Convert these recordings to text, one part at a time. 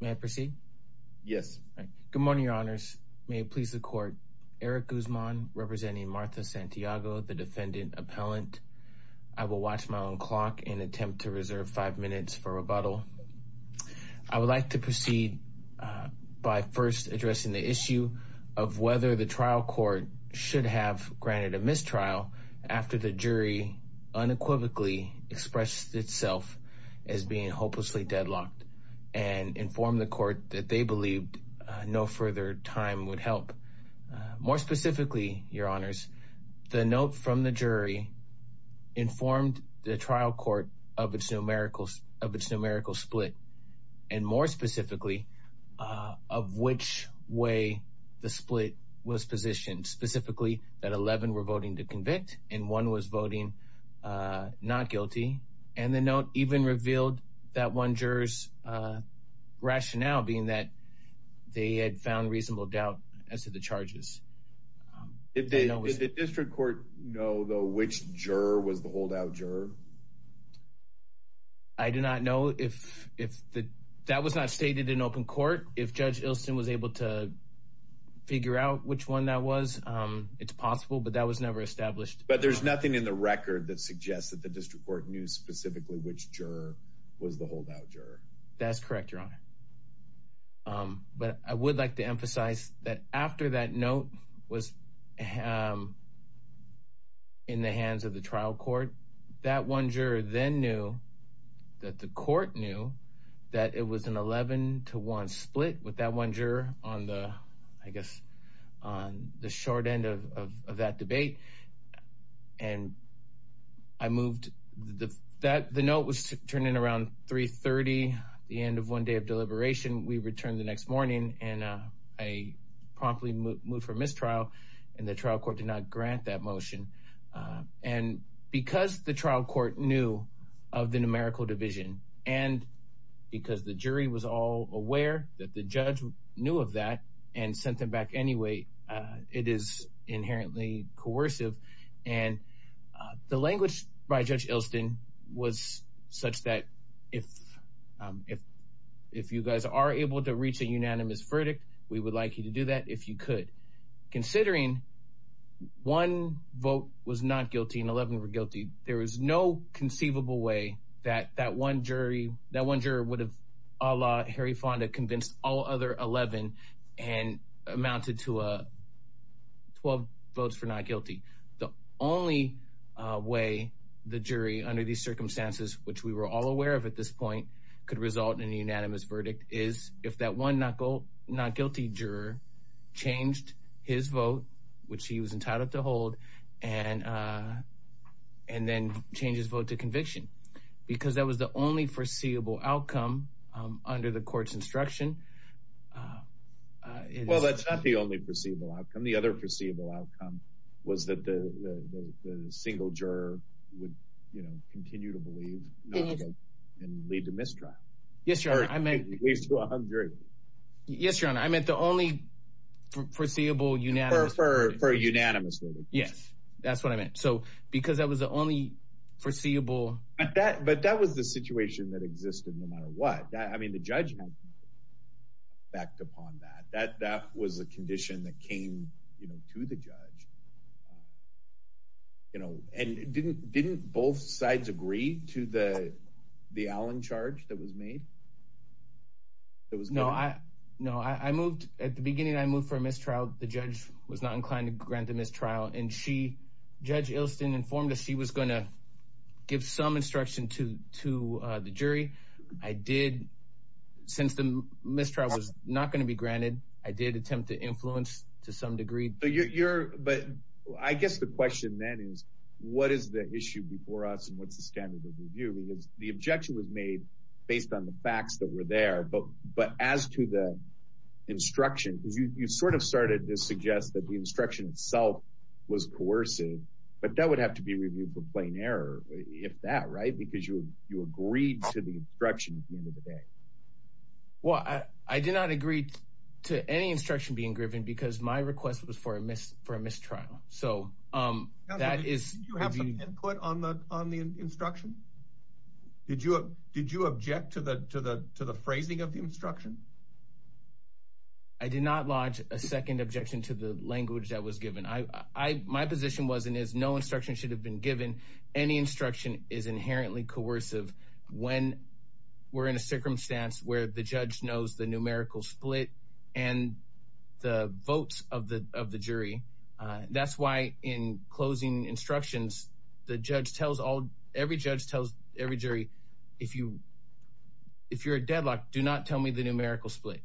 May I proceed? Yes. Good morning, your honors. May it please the court. Eric Guzman representing Martha Santiago, the defendant appellant. I will watch my own clock and attempt to reserve five minutes for rebuttal. I would like to proceed by first addressing the issue of whether the trial court should have granted a mistrial after the jury unequivocally expressed itself as being hopelessly deadlocked and inform the court that they believed no further time would help. More specifically, your honors, the note from the jury informed the trial court of its numerical of its numerical split. And more specifically, of which way the split was positioned, specifically that 11 were voting to convict and one was voting not guilty. And the revealed that one jurors rationale being that they had found reasonable doubt as to the charges. If they know the district court, no, though, which juror was the holdout juror? I do not know if that was not stated in open court. If Judge Ilsen was able to figure out which one that was, it's possible, but that was never established. But there's nothing in the record that suggests that the district court knew specifically which juror was the holdout juror. That's correct, your honor. But I would like to emphasize that after that note was in the hands of the trial court, that one juror then knew that the court knew that it was to one split with that one juror on the, I guess, on the short end of that debate. And I moved that the note was turning around 3.30, the end of one day of deliberation. We returned the next morning and I promptly moved for mistrial and the trial court did not grant that motion. And because the trial court knew of the numerical division and because the jury was all aware that the judge knew of that and sent them back anyway, it is inherently coercive. And the language by Judge Ilsen was such that if you guys are able to reach a unanimous verdict, we would like you to and 11 were guilty. There was no conceivable way that that one jury, that one juror would have, a la Harry Fonda, convinced all other 11 and amounted to 12 votes for not guilty. The only way the jury under these circumstances, which we were all aware of at this point, could result in a unanimous verdict is if that one not guilty juror changed his vote, which he was entitled to hold, and then change his vote to conviction. Because that was the only foreseeable outcome under the court's instruction. Well, that's not the only foreseeable outcome. The other foreseeable outcome was that the single juror would, you know, continue to believe and lead to mistrial. Yes, Your Honor, I meant the only foreseeable unanimous for unanimous. Yes, that's what I meant. So because that was the only foreseeable that, but that was the situation that existed no matter what. I mean, the judge backed upon that, that that was a condition that came to the judge. You know, and didn't didn't both sides agree to the Allen charge that was made? That was no, I, no, I moved at the beginning, I moved for a mistrial. The judge was not inclined to grant the mistrial. And she, Judge Ilston informed us she was going to give some instruction to to the jury. I did. Since the mistrial was not going to be granted. I did attempt to influence to some degree. But you're but I guess the question then is, what is the issue before us? What's the standard of review? Because the objection was made based on the facts that were there. But but as to the instruction, because you sort of started to suggest that the instruction itself was coercive, but that would have to be reviewed for plain error, if that right, because you you agreed to the instruction at the end of the day. Well, I did not agree to any instruction being given because my request was for a miss for a instruction. Did you? Did you object to the to the to the phrasing of the instruction? I did not lodge a second objection to the language that was given. I my position wasn't is no instruction should have been given. Any instruction is inherently coercive. When we're in a circumstance where the judge knows the numerical split, and the votes of the of the every judge tells every jury, if you if you're a deadlock, do not tell me the numerical split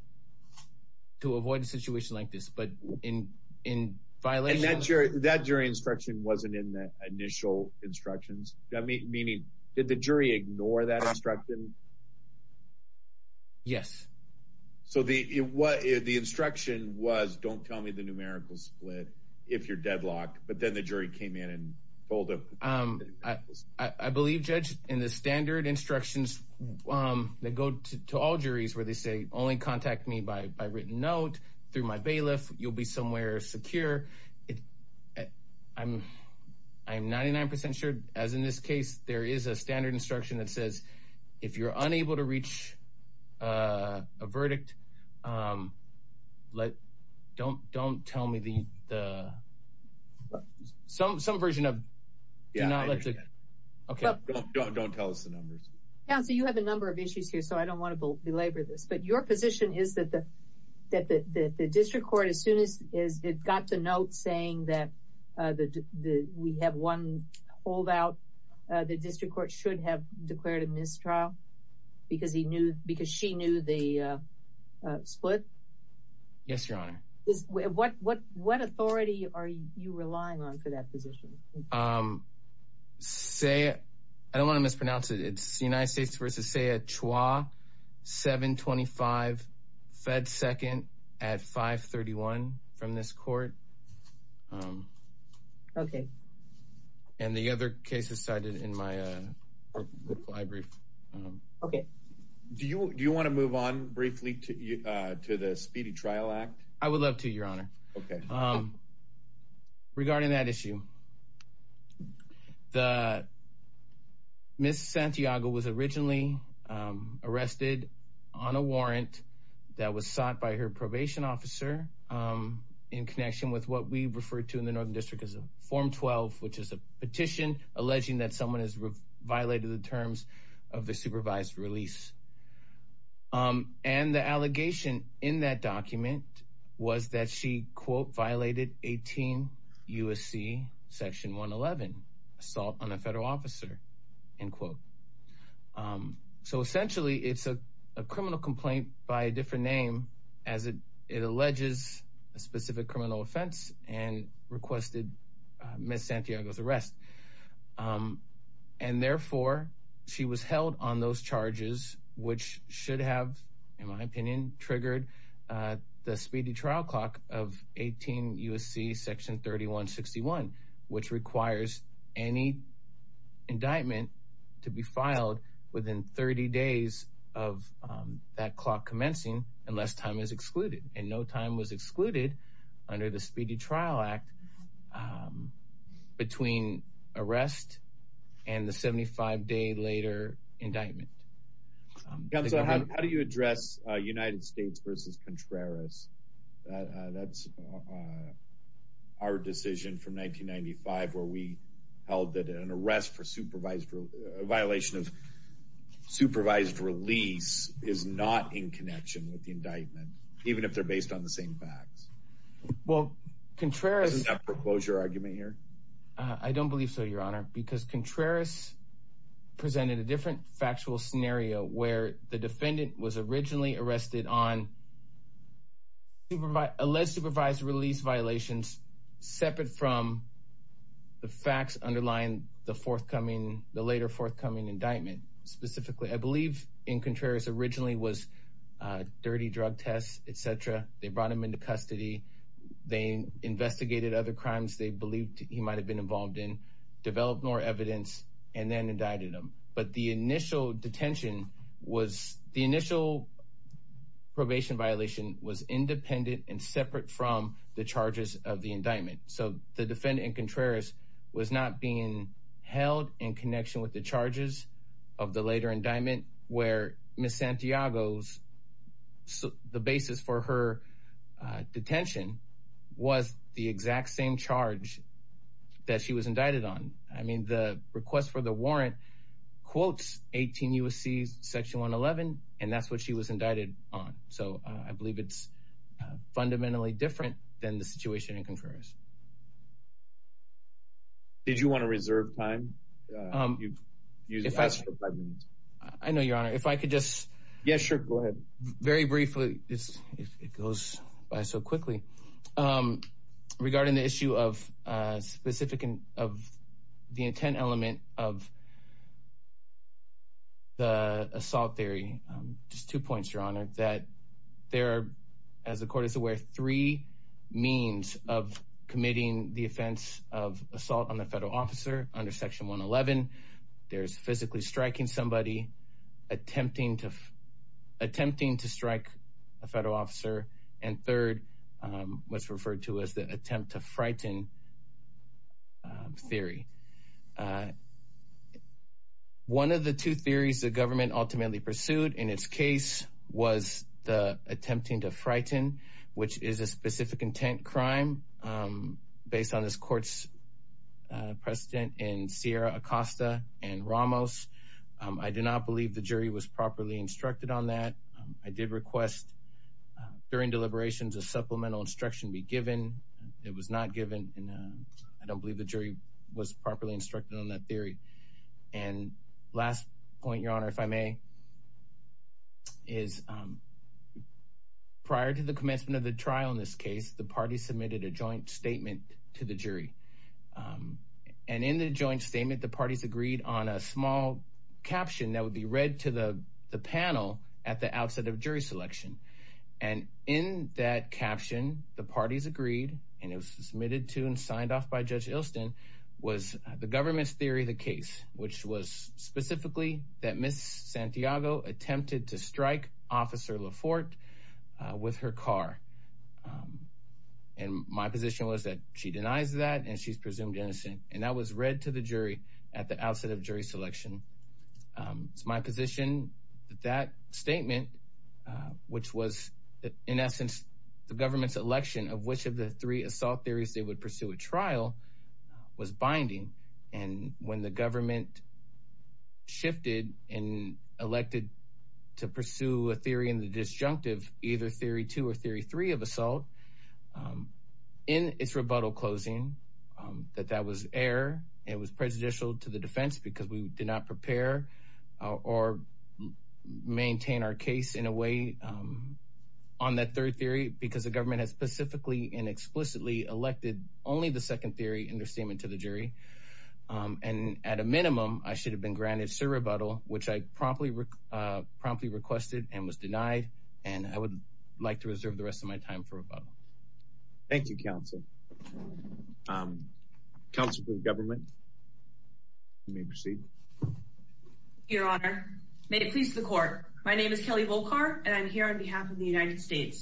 to avoid a situation like this. But in in violation, that jury that jury instruction wasn't in the initial instructions that meet meaning that the jury ignore that instruction. Yes. So the what if the instruction was don't tell me the numerical split, if you're deadlocked, but then the jury came in and pulled up. I believe, Judge, in the standard instructions that go to all juries, where they say only contact me by written note through my bailiff, you'll be somewhere secure. I'm, I'm 99% sure, as in this case, there is a standard instruction that says, if you're unable to reach a verdict, um, like, don't don't tell me the the some some version of yeah. Okay, don't don't tell us the numbers. Yeah, so you have a number of issues here. So I don't want to belabor this. But your position is that the that the district court as soon as is it got to note saying that the we have one holdout, the district court should have declared a mistrial because he knew because she knew the split? Yes, Your Honor is what what what authority are you relying on for that position? Say, I don't want to mispronounce it. It's the United States versus say a choir. 725 fed second at 531 from this court. Okay. And the other cases cited in my reply brief. Okay. Do you want to move on briefly to the speedy trial act? I would love to, Your Honor. Okay. Regarding that issue, the Miss Santiago was originally arrested on a warrant that was sought by her probation officer in connection with what we refer to in the northern district as a form 12, which is a terms of the supervised release. And the allegation in that document was that she quote violated 18 USC section 111 assault on a federal officer, in quote. So essentially, it's a criminal complaint by a different name, as it alleges a specific criminal offense and requested Miss Santiago's arrest. And therefore, she was held on those charges, which should have, in my opinion, triggered the speedy trial clock of 18 USC section 3161, which requires any indictment to be filed within 30 days of that clock commencing unless time is right between arrest and the 75 day later indictment. Counsel, how do you address United States versus Contreras? That's our decision from 1995, where we held that an arrest for supervised violation of supervised release is not in connection with the indictment, even if they're based on the same facts. Well, Contreras. Isn't that a foreclosure argument here? I don't believe so, Your Honor, because Contreras presented a different factual scenario where the defendant was originally arrested on alleged supervised release violations separate from the facts underlying the forthcoming, the later forthcoming indictment. Specifically, I believe in Contreras originally was dirty drug tests, et cetera. They brought him into custody. They investigated other crimes they believed he might have been involved in, developed more evidence and then indicted him. But the initial detention was the initial probation violation was independent and separate from the charges of the indictment. So the defendant in Contreras was not being held in connection with the charges of the later indictment where Ms. Santiago's, the basis for her detention was the exact same charge that she was indicted on. I mean, the request for the warrant quotes 18 U.S.C. section 111, and that's what she was indicted on. So I believe it's fundamentally different than the situation in Contreras. Did you want to reserve time? Um, if I know your honor, if I could just, yeah, sure. Go ahead. Very briefly. It goes by so quickly, um, regarding the issue of, uh, specific and of the intent element of the assault theory. Um, just two points, your honor, that there are, as the court is aware, three means of committing the offense of assault on the federal officer under section 111. There's physically striking somebody, attempting to, attempting to strike a federal officer. And third, um, what's referred to as the attempt to frighten, um, theory. Uh, one of the two theories the government ultimately pursued in its case was the attempting to frighten, which is a specific intent crime, um, based on this court's, uh, precedent in Sierra Acosta and Ramos. Um, I do not believe the jury was properly instructed on that. I did request, uh, during deliberations, a supplemental instruction be given. It was not given. And, uh, I don't believe the jury was properly instructed on that theory. And last point, your honor, if I may, is, um, prior to the commencement of the trial in this case, the party submitted a joint statement to the jury. Um, and in the joint statement, the parties agreed on a small caption that would be read to the panel at the outset of jury selection. And in that caption, the parties agreed, and it was submitted to and signed off by Judge Ilston, was the government's theory of the case, which was specifically that Ms. Santiago attempted to strike Officer Laforte, uh, with her car. Um, and my position was that she denies that and she's presumed innocent. And that was read to the jury at the outset of jury selection. Um, it's my position that that statement, uh, which was in essence the government's of which of the three assault theories they would pursue a trial, uh, was binding. And when the government shifted and elected to pursue a theory in the disjunctive, either theory two or theory three of assault, um, in its rebuttal closing, um, that that was error. It was prejudicial to the defense because we did not prepare, uh, or maintain our case in a way, um, on that third theory, because the government has specifically and explicitly elected only the second theory in their statement to the jury. Um, and at a minimum, I should have been granted, sir, rebuttal, which I promptly, uh, promptly requested and was denied. And I would like to reserve the rest of my time for rebuttal. Thank you, counsel. Um, counsel for the government may proceed. Your honor, made it pleased to the court. My name is Kelly Volcar, and I'm here on behalf of the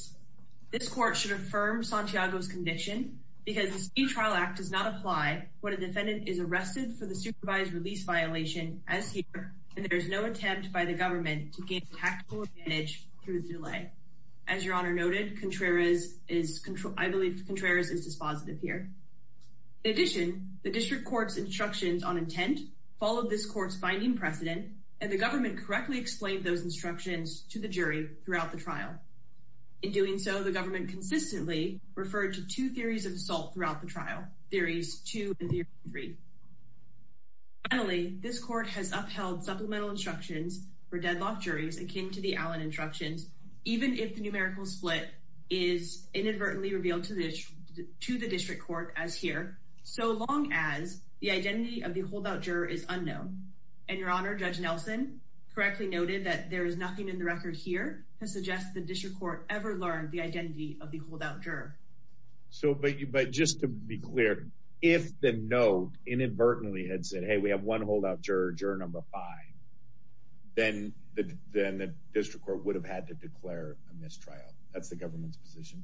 this court should affirm Santiago's conviction because the state trial act does not apply when a defendant is arrested for the supervised release violation as here. And there's no attempt by the government to gain tactical advantage through the delay. As your honor noted, Contreras is control. I believe Contreras is dispositive here. In addition, the district court's instructions on intent followed this court's binding precedent, and the government correctly explained those In doing so, the government consistently referred to two theories of assault throughout the trial, theories two and three. Finally, this court has upheld supplemental instructions for deadlock juries akin to the Allen instructions, even if the numerical split is inadvertently revealed to the district court as here, so long as the identity of the holdout juror is unknown. And your honor, judge Nelson correctly noted that there is nothing in the record here to suggest the district court ever learned the identity of the holdout juror. So, but just to be clear, if the note inadvertently had said, hey, we have one holdout juror, juror number five, then the district court would have had to declare a mistrial. That's the government's position.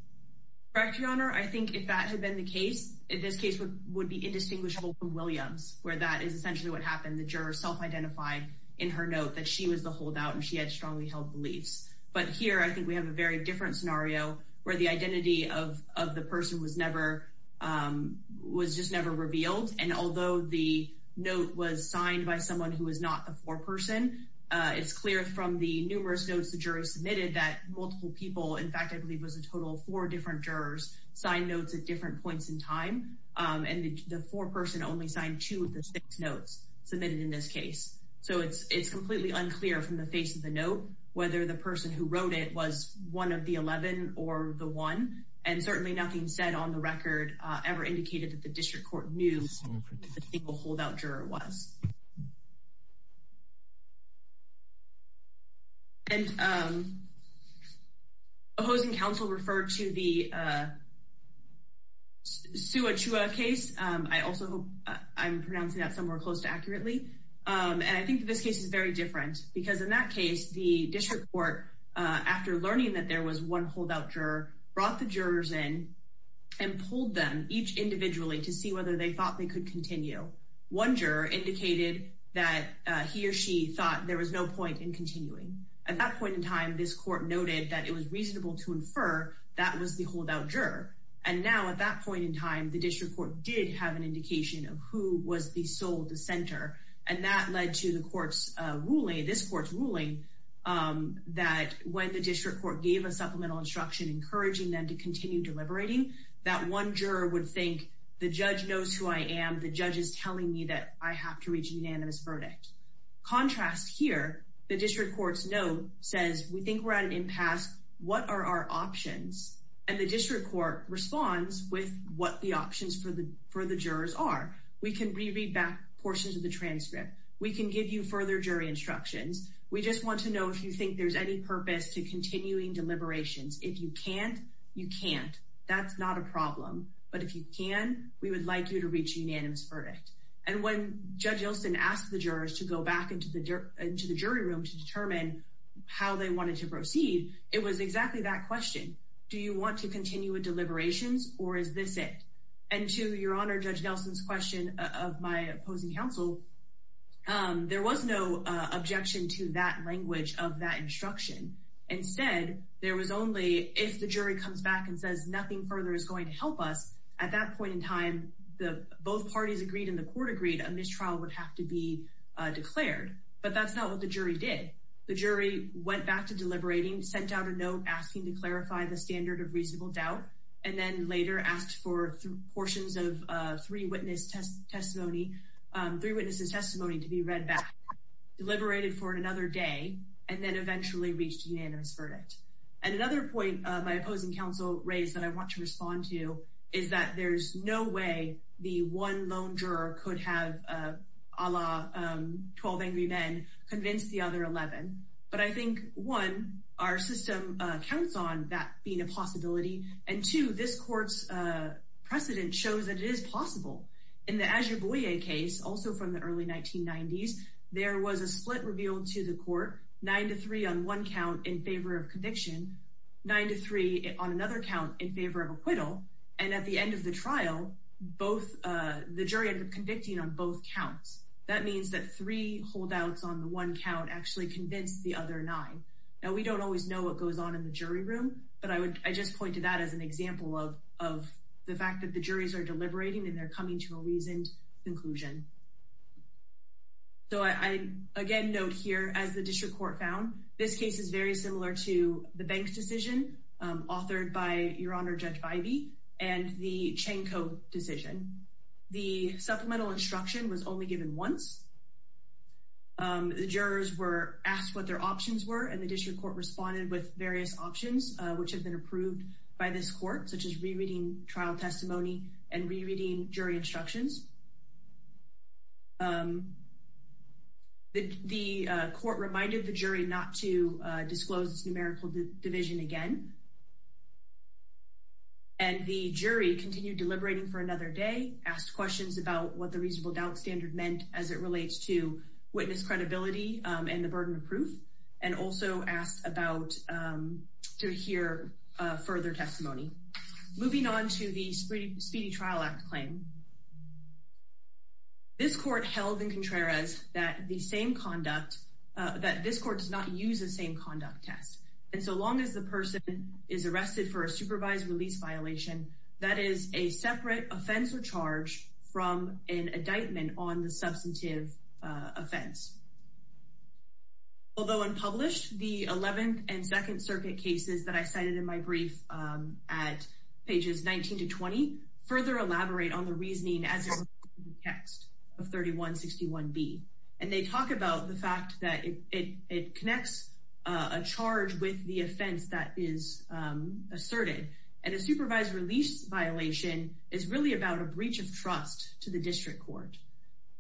Correct, your honor. I think if that had been the case, this case would be indistinguishable from Williams, where that is essentially what happened. The juror self-identified in her note that she was the holdout and she had strongly held beliefs. But here I think we have a very different scenario where the identity of the person was never, was just never revealed. And although the note was signed by someone who was not the foreperson, it's clear from the numerous notes the jury submitted that multiple people, in fact, I believe was a total of four different jurors, signed notes at different points in time. And the foreperson only signed two of the six notes submitted in this case. So it's completely unclear from the face of the note whether the person who wrote it was one of the 11 or the one. And certainly nothing said on the record ever indicated that the district court knew who the holdout juror was. And opposing counsel referred to the case. I also hope I'm pronouncing that somewhere close to accurately. And I think this case is very different because in that case, the district court, after learning that there was one holdout juror, brought the jurors in and pulled them each individually to see whether they thought they could continue. One juror indicated that he or she thought there was no point in continuing. At that point in time, this court noted that it was an indication of who was the sole dissenter. And that led to the court's ruling, this court's ruling, that when the district court gave a supplemental instruction encouraging them to continue deliberating, that one juror would think the judge knows who I am. The judge is telling me that I have to reach a unanimous verdict. Contrast here, the district court's note says, we think we're at an impasse. What are our options? And the district court responds with what the options for the jurors are. We can reread back portions of the transcript. We can give you further jury instructions. We just want to know if you think there's any purpose to continuing deliberations. If you can't, you can't. That's not a problem. But if you can, we would like you to reach a unanimous verdict. And when Judge Ilsen asked the jurors to go back into the jury room to determine how they wanted to proceed, it was exactly that question. Do you want to continue with deliberations, or is this it? And to Your Honor, Judge Nelson's question of my opposing counsel, there was no objection to that language of that instruction. Instead, there was only, if the jury comes back and says nothing further is going to help us, at that point in time, both parties agreed and the court agreed, a mistrial would have to be declared. But that's not what the jury did. The jury went back to deliberating, sent out a note asking to clarify the standard of reasonable doubt, and then later asked for portions of three witnesses' testimony to be read back, deliberated for another day, and then eventually reached a unanimous verdict. And another point my opposing counsel raised that I want to respond to is that there's no way the one lone juror could have, a la 12 Angry Men, convinced the other 11. But I think, one, our system counts on that being a possibility, and two, this court's precedent shows that it is possible. In the Azubuye case, also from the early 1990s, there was a split revealed to the court, nine to three on one count in favor of conviction, nine to three on another count in favor of acquittal, and at the end of the trial, both, the jury ended up convicting on both counts. That means that three holdouts on the one count actually convinced the other nine. Now, we don't always know what goes on in the jury room, but I just pointed that as an example of the fact that the juries are deliberating and they're coming to a reasoned conclusion. So I, again, note here, as the district court found, this case is very similar to the Banks decision, authored by Your Honor Judge Ivey, and the Chanko decision. The supplemental instruction was only given once. The jurors were asked what their options were, and the district court responded with various options, which have been approved by this court, such as rereading trial testimony and rereading jury instructions. The court reminded the jury not to disclose its numerical division again, and the jury continued deliberating for another day, asked questions about what the reasonable doubt standard meant as it relates to witness credibility and the burden of proof, and also asked about, to hear further testimony. Moving on to the Speedy Trial Act claim, this court held in contrarios that the same conduct, that this court does not use the same conduct test, and so long as the person is arrested for a supervised release violation, that is a separate offense or charge from an indictment on the substantive offense. Although unpublished, the 11th and Second Circuit cases that I cited in my brief at pages 19 to 20 further elaborate on the reasoning as it relates to the text of 3161B, and they talk about the fact that it connects a charge with the offense that is asserted, and a supervised release violation is really about a breach of trust to the district court.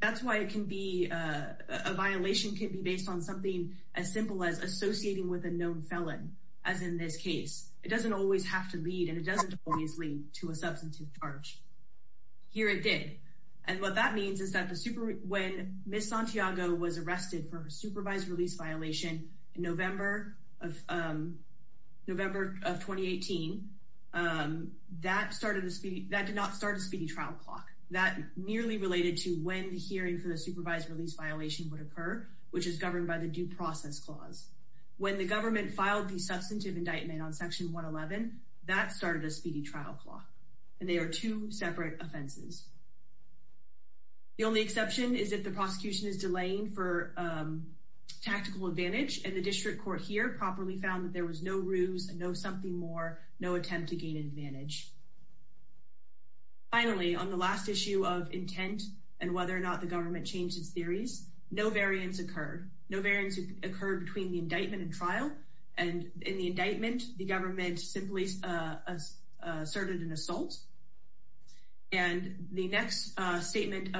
That's why it can be, a violation can be based on something as simple as associating with a known felon, as in this case. It doesn't always have to lead, and it doesn't always lead to a substantive charge. Here it did, and what that means is that the Super, when Ms. Santiago was arrested for her supervised release violation in November of 2018, that started the Speedy, that did not start a Speedy Trial Clock. That merely related to when the hearing for the supervised release violation would occur, which is governed by the Due Process Clause. When the government filed the substantive indictment on Section 111, that started a Speedy Trial Clock, and they are two separate offenses. The only exception is if the prosecution is delaying for tactical advantage, and the district court here properly found that there was no ruse, no something more, no attempt to gain advantage. Finally, on the last issue of intent and whether or not the government changed its theories, no variance occurred. No variance occurred between the indictment and trial, and in the indictment, the government simply asserted an assault. And the next statement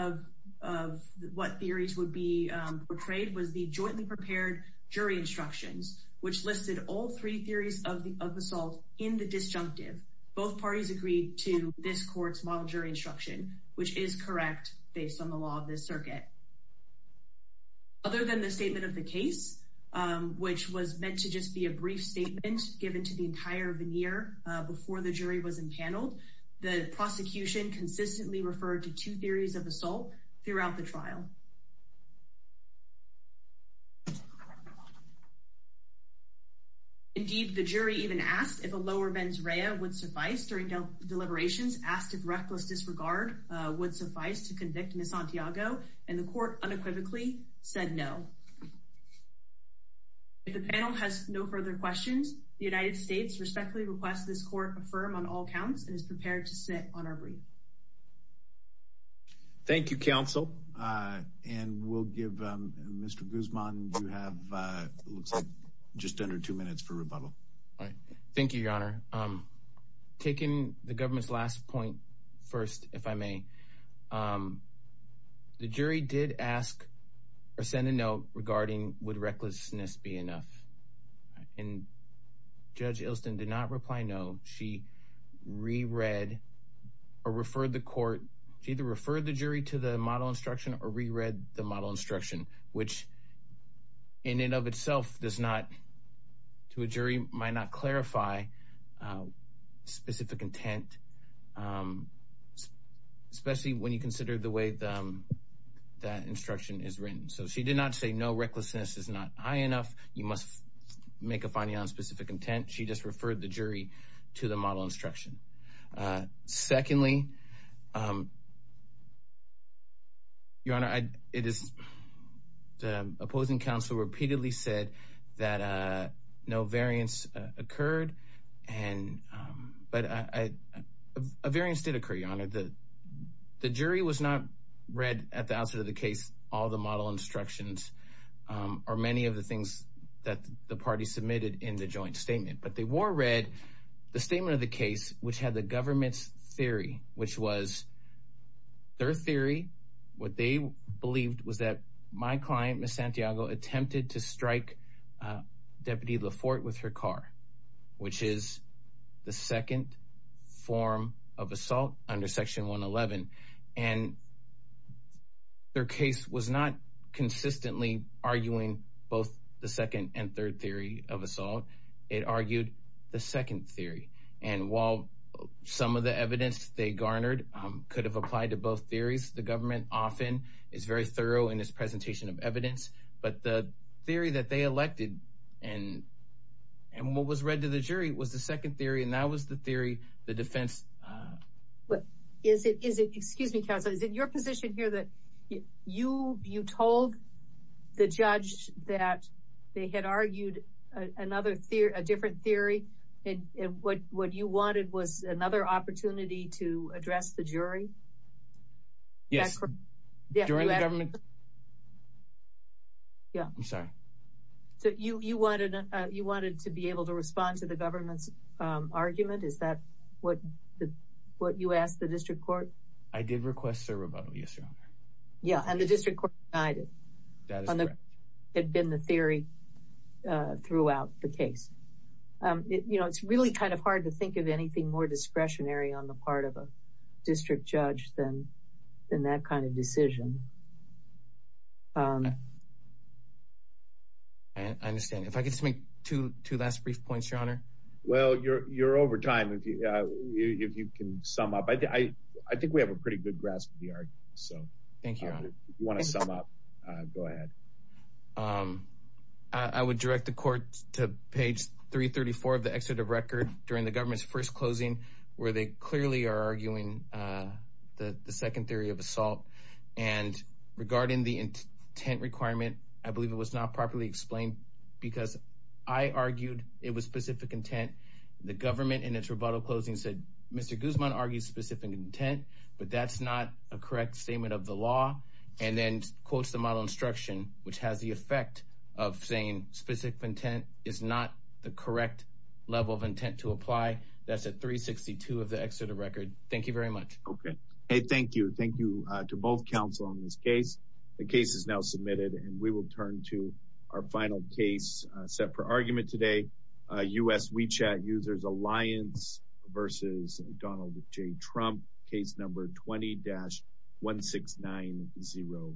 of what theories would be portrayed was the jointly prepared jury instructions, which listed all three theories of the assault in the disjunctive. Both parties agreed to this court's model jury instruction, which is correct based on the law of this circuit. Other than the statement of the case, which was meant to just be a brief statement given to the entire veneer before the jury was empaneled, the prosecution consistently referred to two theories of assault throughout the trial. Indeed, the jury even asked if a lower mens rea would suffice during deliberations, asked if reckless disregard would suffice to convict Ms. Santiago, and the court unequivocally said no. If the panel has no further questions, the United States respectfully requests this court affirm on all counts and is prepared to sit on our brief. Thank you, counsel. And we'll give Mr. Guzman, you have, looks like just under two minutes for rebuttal. Thank you, Your Honor. Taking the government's point first, if I may, the jury did ask or send a note regarding would recklessness be enough. And Judge Ilston did not reply no. She re-read or referred the court, she either referred the jury to the model instruction or re-read the model instruction, which in and of itself does not, to a jury, might not clarify specific intent, especially when you consider the way that instruction is written. So she did not say no, recklessness is not high enough, you must make a finding on specific intent. She just referred the jury to the model instruction. Secondly, Your Honor, it is, the opposing counsel repeatedly said that no variance occurred and, but a variance did occur, Your Honor. The jury was not read at the outset of the case, all the model instructions or many of the things that the party submitted in the joint statement, but they were read the statement of the case, which had the government's theory, which was their theory, what they believed was that my client, Ms. Santiago, attempted to strike Deputy Laforte with her car, which is the second form of assault under Section 111. And their case was not consistently arguing both the second and third theory of assault, it argued the second theory. And while some of the evidence they garnered could have applied to both theories, the government often is very thorough in its presentation of evidence, but the theory that they elected and what was read to the jury was the second theory, and that was the theory, the defense. But is it, is it, excuse me, counsel, is it your position here that you, you told the judge that they had argued another theory, a different theory, and what, what you wanted was another opportunity to address the jury? Yes, during the government. Yeah, I'm sorry. So you, you wanted, you wanted to be able to respond to the government's argument? Is that what, what you asked the district court? I did request a rebuttal, yes, your honor. Yeah, and the district court denied it. That is correct. Had been the theory throughout the case. You know, it's really kind of hard to think of anything more discretionary on the part of a district judge than, than that kind of decision. I understand. If I could just make two, two last brief points, your honor. Well, you're, you're over time. If you, if you can sum up, I think we have a pretty good grasp of the argument, so. Thank you, your honor. If you want to sum up, go ahead. I would direct the court to page 334 of the excerpt of record during the government's first where they clearly are arguing the second theory of assault. And regarding the intent requirement, I believe it was not properly explained because I argued it was specific intent. The government in its rebuttal closing said, Mr. Guzman argues specific intent, but that's not a correct statement of the law. And then quotes the model instruction, which has the effect of saying specific intent is not the correct level of intent to apply. That's at 362 of the excerpt of record. Thank you very much. Okay. Hey, thank you. Thank you to both counsel on this case. The case is now submitted and we will turn to our final case set for argument today. US WeChat users Alliance versus Donald J. Trump case number 20-16908.